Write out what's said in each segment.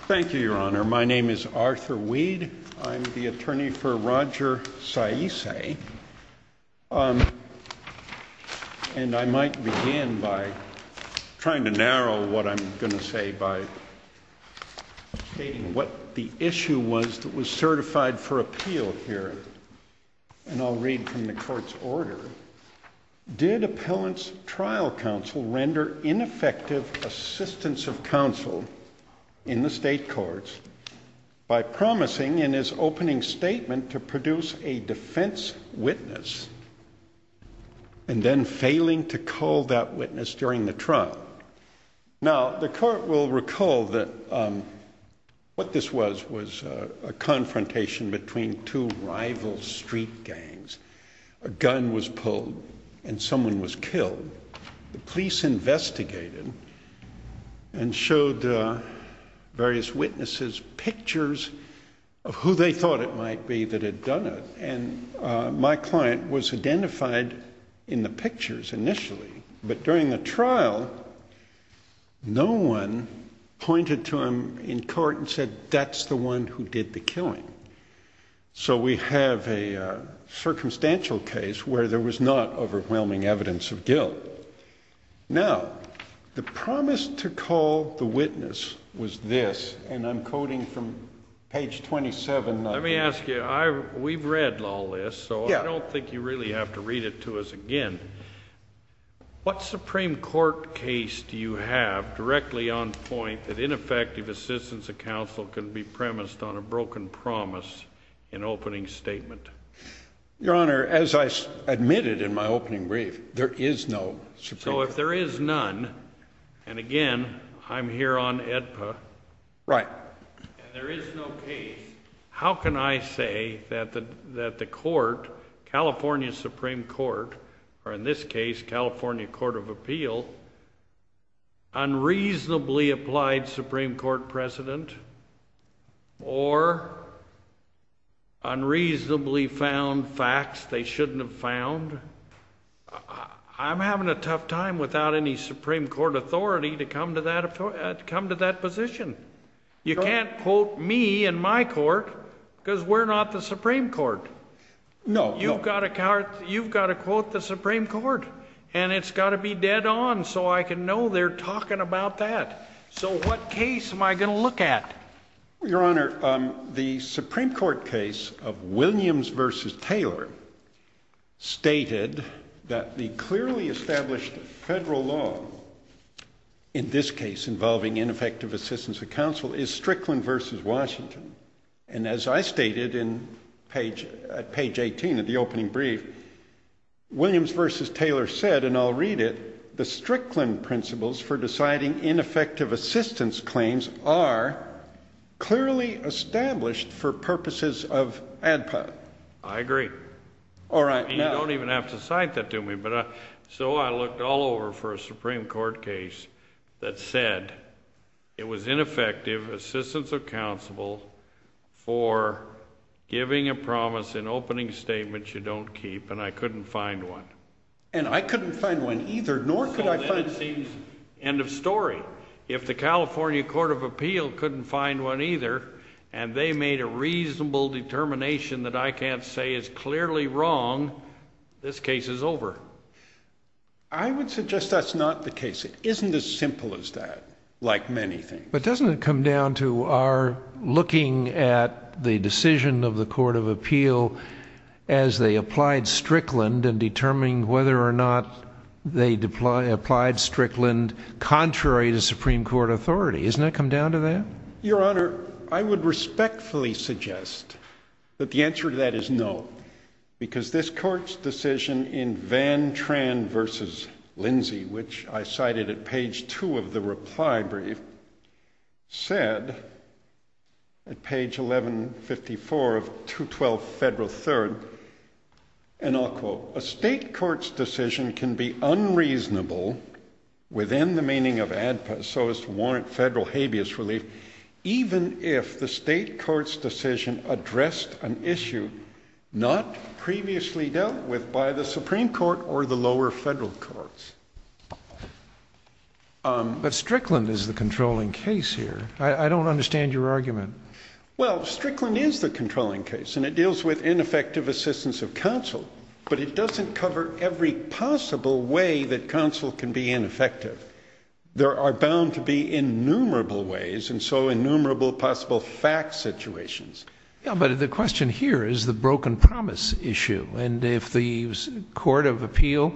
Thank you, Your Honor. My name is Arthur Weed. I'm the attorney for Roger Saesee. And I might begin by trying to narrow what I'm going to say by stating what the issue was that was certified for appeal here. And I'll read from the court's order. Did appellant's trial counsel render ineffective assistance of counsel in the state courts by promising in his opening statement to produce a defense witness and then failing to call that witness during the trial? Now, the court will recall that what this was was a confrontation between two rival street gangs. A gun was pulled and someone was killed. The police investigated and showed various witnesses pictures of who they thought it might be that had done it. And my client was identified in the pictures initially. But during the trial, no one pointed to him in court and said, that's the one who did the killing. So we have a circumstantial case where there was not overwhelming evidence of guilt. Now, the promise to call the witness was this, and I'm quoting from page 27. Let me ask you, we've read all this, so I don't think you really have to read it to us again. What Supreme Court case do you have directly on point that ineffective assistance of counsel can be premised on a broken promise in opening statement? Your Honor, as I admitted in my opening brief, there is no Supreme Court case. So if there is none, and again, I'm here on AEDPA. Right. And there is no case. How can I say that the court, California Supreme Court, or in this case, California Court of Appeal, unreasonably applied Supreme Court precedent, or unreasonably found facts they shouldn't have found? I'm having a tough time without any Supreme Court authority to come to that position. You can't quote me in my court, because we're not the Supreme Court. No. You've got to quote the Supreme Court, and it's got to be dead on so I can know they're talking about that. So what case am I going to look at? Your Honor, the Supreme Court case of Williams v. Taylor stated that the clearly established federal law, in this case involving ineffective assistance of counsel, is Strickland v. Washington. And as I stated at page 18 of the opening brief, Williams v. Taylor said, and I'll read it, the Strickland principles for deciding ineffective assistance claims are clearly established for purposes of AEDPA. I agree. All right. You don't even have to cite that to me. So I looked all over for a Supreme Court case that said it was ineffective assistance of counsel for giving a promise in opening statements you don't keep, and I couldn't find one. And I couldn't find one either, nor could I find one. So then it seems, end of story. If the California Court of Appeal couldn't find one either, and they made a reasonable determination that I can't say is clearly wrong, this case is over. I would suggest that's not the case. It isn't as simple as that, like many things. But doesn't it come down to our looking at the decision of the Court of Appeal as they applied Strickland and determining whether or not they applied Strickland contrary to Supreme Court authority? Doesn't it come down to that? Your Honor, I would respectfully suggest that the answer to that is no, because this Court's decision in Van Tran v. Lindsay, which I cited at page 2 of the reply brief, said at page 1154 of 212 Federal 3rd, and I'll quote, A state court's decision can be unreasonable within the meaning of ADPA so as to warrant federal habeas relief, even if the state court's decision addressed an issue not previously dealt with by the Supreme Court or the lower federal courts. But Strickland is the controlling case here. I don't understand your argument. Well, Strickland is the controlling case, and it deals with ineffective assistance of counsel, but it doesn't cover every possible way that counsel can be ineffective. There are bound to be innumerable ways, and so innumerable possible fact situations. Yeah, but the question here is the broken promise issue, and if the Court of Appeal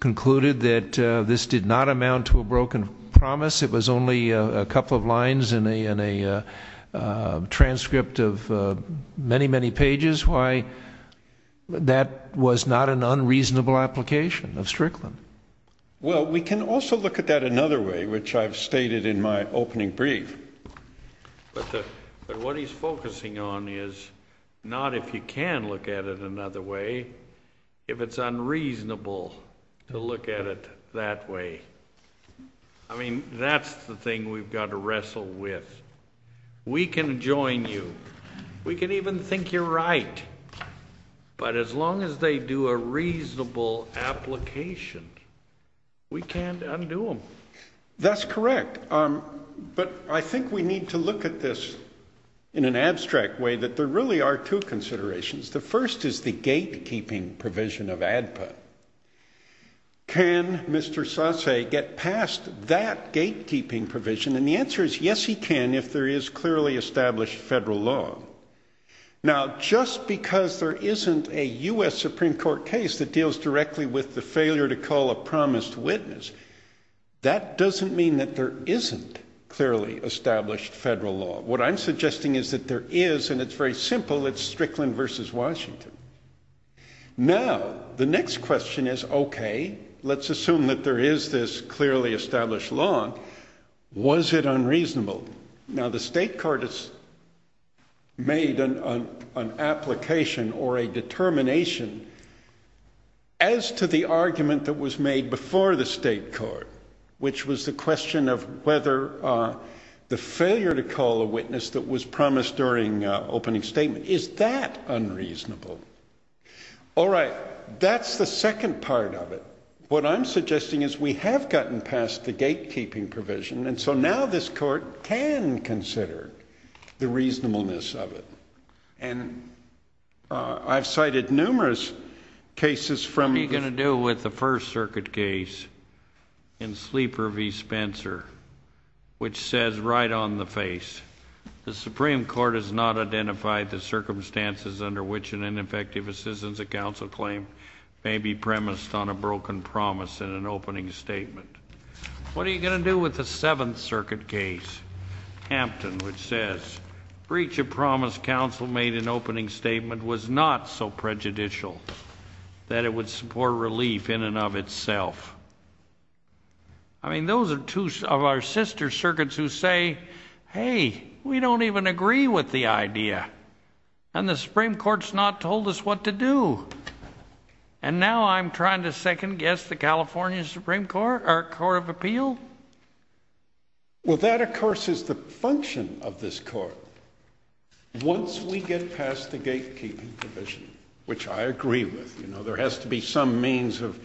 concluded that this did not amount to a broken promise, it was only a couple of lines in a transcript of many, many pages, why that was not an unreasonable application of Strickland. Well, we can also look at that another way, which I've stated in my opening brief. But what he's focusing on is not if you can look at it another way, if it's unreasonable to look at it that way. I mean, that's the thing we've got to wrestle with. We can join you. We can even think you're right. But as long as they do a reasonable application, we can't undo them. That's correct. But I think we need to look at this in an abstract way, that there really are two considerations. The first is the gatekeeping provision of ADPA. Can Mr. Sasse get past that gatekeeping provision? And the answer is yes, he can, if there is clearly established federal law. Now, just because there isn't a U.S. Supreme Court case that deals directly with the failure to call a promised witness, that doesn't mean that there isn't clearly established federal law. What I'm suggesting is that there is, and it's very simple, it's Strickland versus Washington. Now, the next question is, okay, let's assume that there is this clearly established law. Was it unreasonable? Now, the state court has made an application or a determination as to the argument that was made before the state court, which was the question of whether the failure to call a witness that was promised during opening statement, is that unreasonable? All right, that's the second part of it. What I'm suggesting is we have gotten past the gatekeeping provision, and so now this court can consider the reasonableness of it. And I've cited numerous cases from… What are you going to do with the First Circuit case in Sleeper v. Spencer, which says right on the face, the Supreme Court has not identified the circumstances under which an ineffective assistance of counsel claim may be premised on a broken promise in an opening statement. What are you going to do with the Seventh Circuit case, Hampton, which says, breach of promise counsel made in opening statement was not so prejudicial that it would support relief in and of itself. I mean, those are two of our sister circuits who say, hey, we don't even agree with the idea, and the Supreme Court's not told us what to do. And now I'm trying to second-guess the California Supreme Court or Court of Appeal? Well, that, of course, is the function of this court. Once we get past the gatekeeping provision, which I agree with, you know, there has to be some means of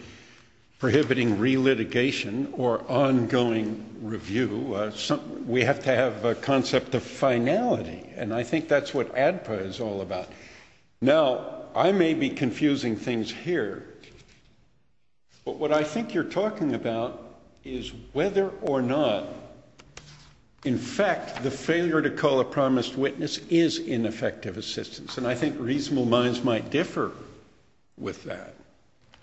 prohibiting re-litigation or ongoing review. We have to have a concept of finality, and I think that's what ADPA is all about. Now, I may be confusing things here, but what I think you're talking about is whether or not, in fact, the failure to call a promised witness is ineffective assistance, and I think reasonable minds might differ with that.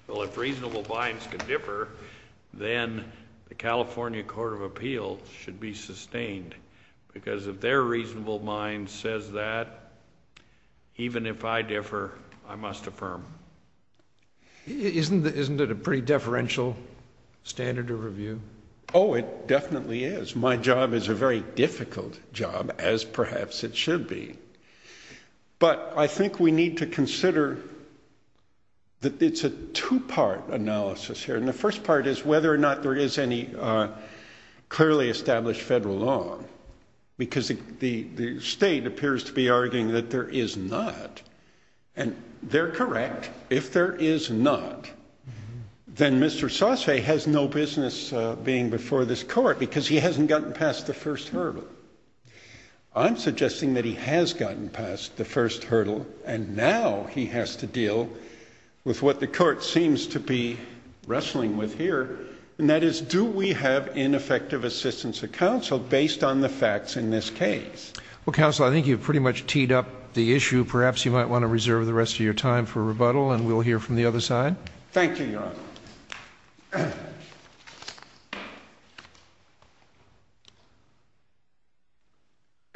Well, if reasonable minds can differ, then the California Court of Appeal should be sustained, because if their reasonable mind says that, even if I differ, I must affirm. Isn't it a pretty deferential standard of review? Oh, it definitely is. My job is a very difficult job, as perhaps it should be. But I think we need to consider that it's a two-part analysis here, and the first part is whether or not there is any clearly established federal law, because the state appears to be arguing that there is not, and they're correct. But if there is not, then Mr. Sasse has no business being before this Court, because he hasn't gotten past the first hurdle. I'm suggesting that he has gotten past the first hurdle, and now he has to deal with what the Court seems to be wrestling with here, and that is, do we have ineffective assistance of counsel based on the facts in this case? Well, Counsel, I think you've pretty much teed up the issue. Perhaps you might want to reserve the rest of your time for rebuttal, and we'll hear from the other side. Thank you, Your Honor.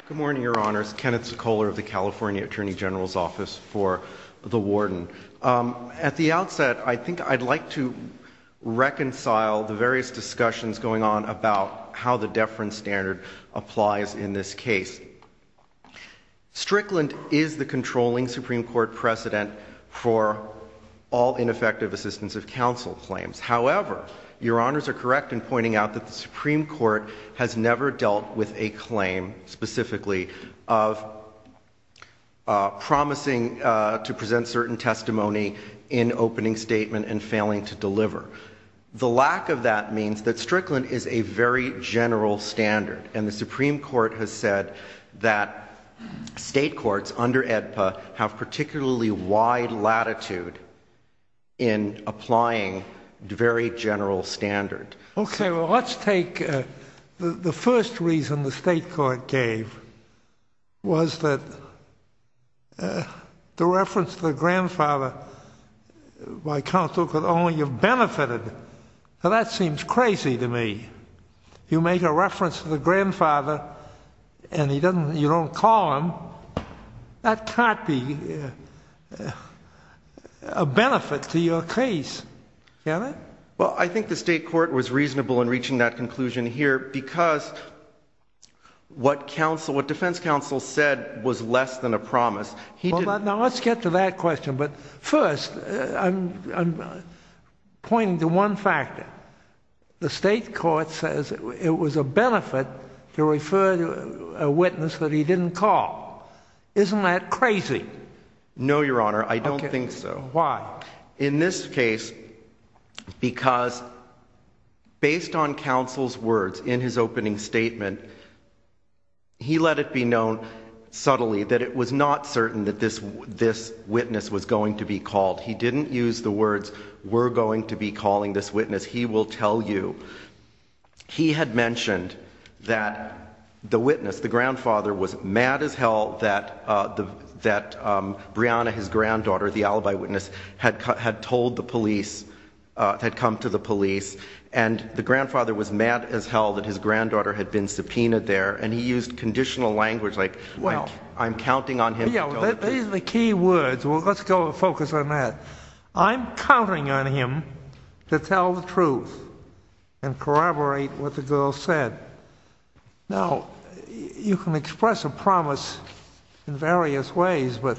Good morning, Your Honors. Kenneth Sekola of the California Attorney General's Office for the Warden. At the outset, I think I'd like to reconcile the various discussions going on about how the deference standard applies in this case. Strickland is the controlling Supreme Court precedent for all ineffective assistance of counsel claims. However, Your Honors are correct in pointing out that the Supreme Court has never dealt with a claim, specifically of promising to present certain testimony in opening statement and failing to deliver. The lack of that means that Strickland is a very general standard, and the Supreme Court has said that state courts under AEDPA have particularly wide latitude in applying very general standard. Okay, well, let's take the first reason the state court gave, was that the reference to the grandfather by counsel could only have benefited. Now, that seems crazy to me. You make a reference to the grandfather, and you don't call him. That can't be a benefit to your case, can it? Well, I think the state court was reasonable in reaching that conclusion here because what defense counsel said was less than a promise. Now, let's get to that question. But first, I'm pointing to one factor. The state court says it was a benefit to refer a witness that he didn't call. Isn't that crazy? No, Your Honor, I don't think so. Why? In this case, because based on counsel's words in his opening statement, he let it be known subtly that it was not certain that this witness was going to be called. He didn't use the words, we're going to be calling this witness, he will tell you. He had mentioned that the witness, the grandfather, was mad as hell that Brianna, his granddaughter, the alibi witness, had told the police, had come to the police, and the grandfather was mad as hell that his granddaughter had been subpoenaed there, and he used conditional language like, I'm counting on him to tell the truth. These are the key words. Let's focus on that. I'm counting on him to tell the truth and corroborate what the girl said. Now, you can express a promise in various ways, but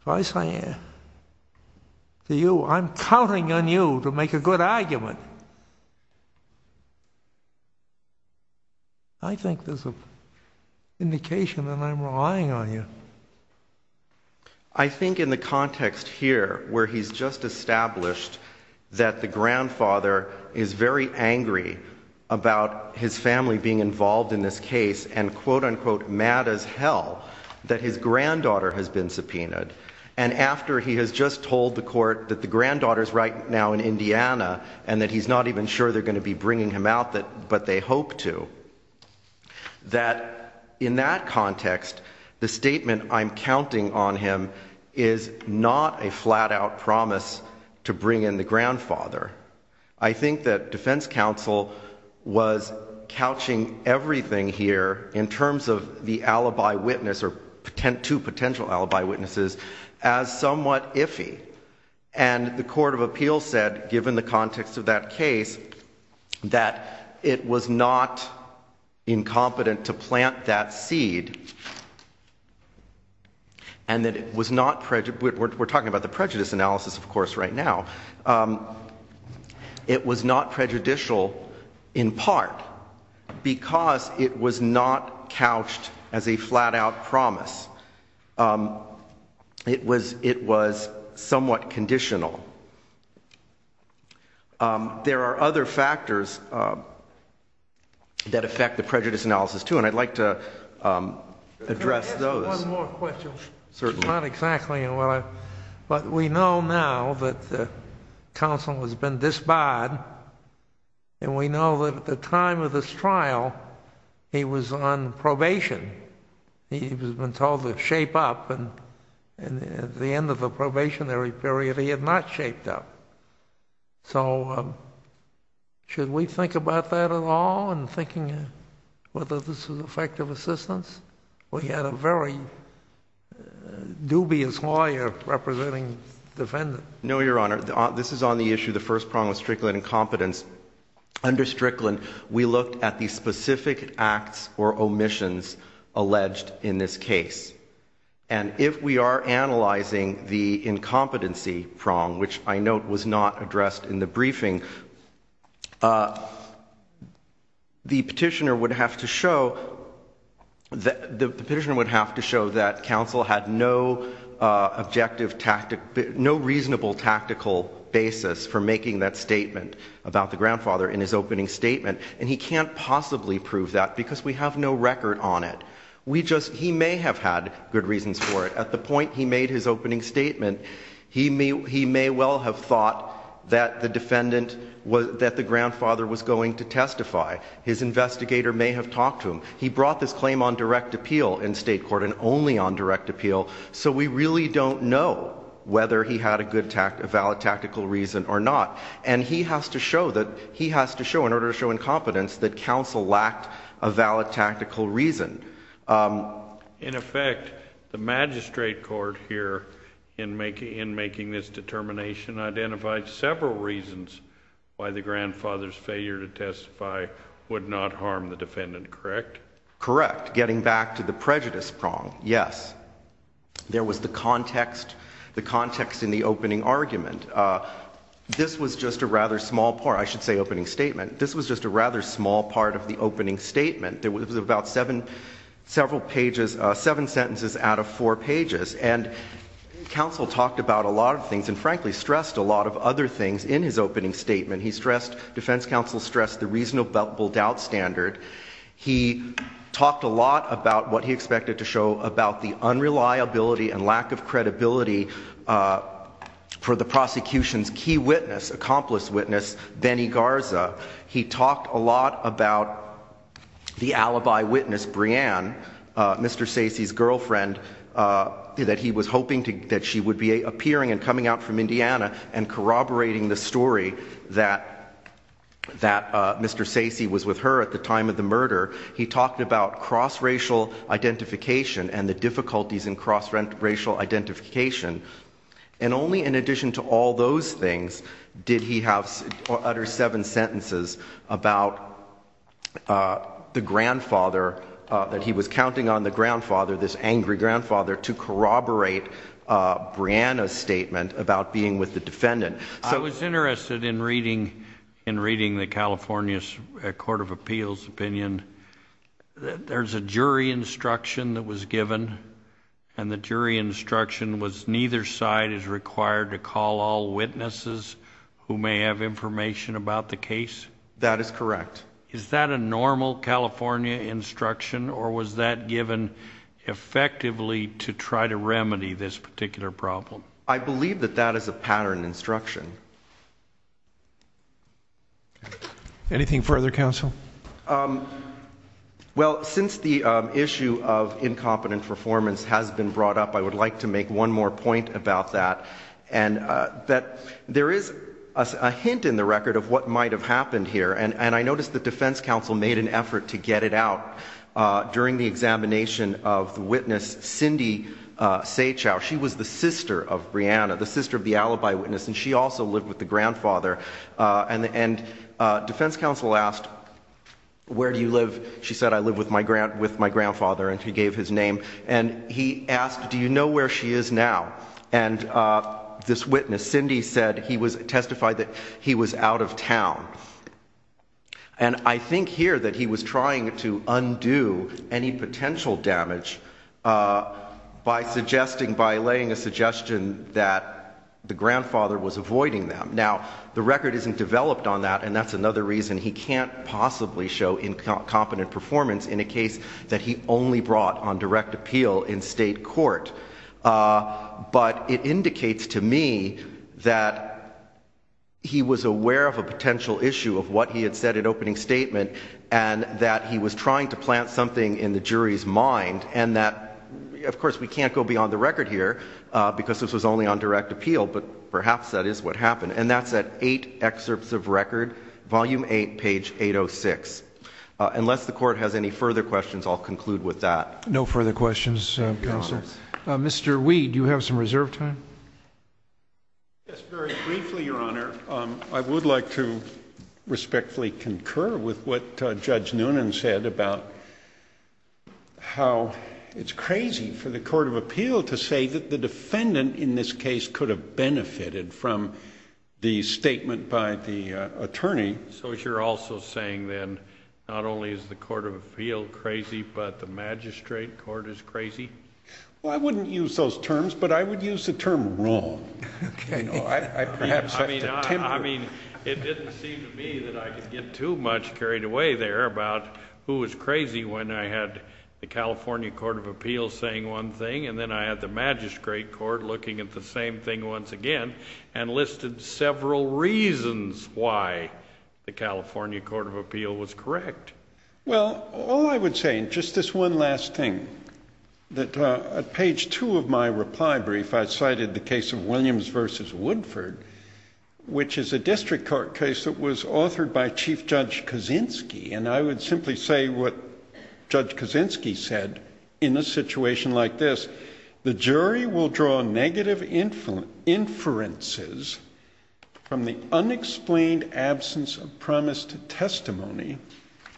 if I say to you, I'm counting on you to make a good argument, I think there's an indication that I'm relying on you. I think in the context here, where he's just established that the grandfather is very angry about his family being involved in this case and quote-unquote mad as hell that his granddaughter has been subpoenaed, and after he has just told the court that the granddaughter's right now in Indiana, and that he's not even sure they're going to be bringing him out, but they hope to, that in that context, the statement, I'm counting on him, is not a flat-out promise to bring in the grandfather. I think that defense counsel was couching everything here in terms of the alibi witness or two potential alibi witnesses as somewhat iffy, and the court of appeals said, given the context of that case, that it was not incompetent to plant that seed, and that it was not, we're talking about the prejudice analysis of course right now, it was not prejudicial in part because it was not couched as a flat-out promise. It was somewhat conditional. There are other factors that affect the prejudice analysis too, and I'd like to address those. One more question. Certainly. Not exactly, but we know now that counsel has been disbarred, and we know that at the time of this trial, he was on probation. He had been told to shape up, and at the end of the probationary period, he had not shaped up. So should we think about that at all, and thinking whether this is effective assistance? We had a very dubious lawyer representing the defendant. No, Your Honor. This is on the issue of the first prong of Strickland incompetence. Under Strickland, we looked at the specific acts or omissions alleged in this case, and if we are analyzing the incompetency prong, which I note was not addressed in the briefing, the petitioner would have to show that counsel had no objective, no reasonable tactical basis for making that statement about the grandfather in his opening statement, and he can't possibly prove that because we have no record on it. He may have had good reasons for it. At the point he made his opening statement, he may well have thought that the grandfather was going to testify. His investigator may have talked to him. He brought this claim on direct appeal in state court and only on direct appeal, so we really don't know whether he had a valid tactical reason or not, and he has to show, in order to show incompetence, that counsel lacked a valid tactical reason. In effect, the magistrate court here, in making this determination, identified several reasons why the grandfather's failure to testify would not harm the defendant, correct? Correct. Getting back to the prejudice prong, yes. There was the context in the opening argument. This was just a rather small part. I should say opening statement. This was just a rather small part of the opening statement. It was about seven sentences out of four pages, and counsel talked about a lot of things and, frankly, stressed a lot of other things in his opening statement. He stressed, defense counsel stressed, the reasonable doubt standard. He talked a lot about what he expected to show about the unreliability and lack of credibility for the prosecution's key witness, accomplice witness, Benny Garza. He talked a lot about the alibi witness, Breanne, Mr. Sacy's girlfriend, that he was hoping that she would be appearing and coming out from Indiana and corroborating the story that Mr. Sacy was with her at the time of the murder. He talked about cross-racial identification and the difficulties in cross-racial identification. And only in addition to all those things did he utter seven sentences about the grandfather, that he was counting on the grandfather, this angry grandfather, to corroborate Breanne's statement about being with the defendant. I was interested in reading the California Court of Appeals opinion. There's a jury instruction that was given, and the jury instruction was neither side is required to call all witnesses who may have information about the case? That is correct. Is that a normal California instruction, or was that given effectively to try to remedy this particular problem? I believe that that is a pattern instruction. Anything further, counsel? Well, since the issue of incompetent performance has been brought up, I would like to make one more point about that. There is a hint in the record of what might have happened here, and I noticed the defense counsel made an effort to get it out during the examination of the witness, Cindy Seichow. She was the sister of Breanne, the sister of the alibi witness, and she also lived with the grandfather. Defense counsel asked, where do you live? She said, I live with my grandfather, and he gave his name. He asked, do you know where she is now? This witness, Cindy, testified that he was out of town. I think here that he was trying to undo any potential damage by laying a suggestion that the grandfather was avoiding them. Now, the record isn't developed on that, and that's another reason he can't possibly show incompetent performance in a case that he only brought on direct appeal in state court. But it indicates to me that he was aware of a potential issue of what he had said in opening statement and that he was trying to plant something in the jury's mind and that, of course, we can't go beyond the record here because this was only on direct appeal, but perhaps that is what happened. And that's at 8 excerpts of record, volume 8, page 806. Unless the court has any further questions, I'll conclude with that. No further questions, counsel. Mr. Weed, do you have some reserve time? Yes, very briefly, Your Honor. I would like to respectfully concur with what Judge Noonan said about how it's crazy for the court of appeal to say that the defendant in this case could have benefited from the statement by the attorney. So you're also saying then not only is the court of appeal crazy, but the magistrate court is crazy? Well, I wouldn't use those terms, but I would use the term wrong. I mean, it didn't seem to me that I could get too much carried away there about who was crazy when I had the California Court of Appeals saying one thing and then I had the magistrate court looking at the same thing once again and listed several reasons why the California Court of Appeals was correct. Well, all I would say, and just this one last thing, that at page 2 of my reply brief I cited the case of Williams v. Woodford, which is a district court case that was authored by Chief Judge Kaczynski, and I would simply say what Judge Kaczynski said in a situation like this. The jury will draw negative inferences from the unexplained absence of promise to testimony,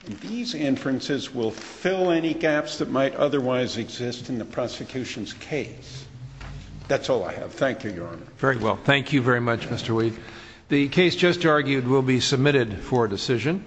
and these inferences will fill any gaps that might otherwise exist in the prosecution's case. That's all I have. Thank you, Your Honor. Very well. Thank you very much, Mr. Weave. The case just argued will be submitted for decision.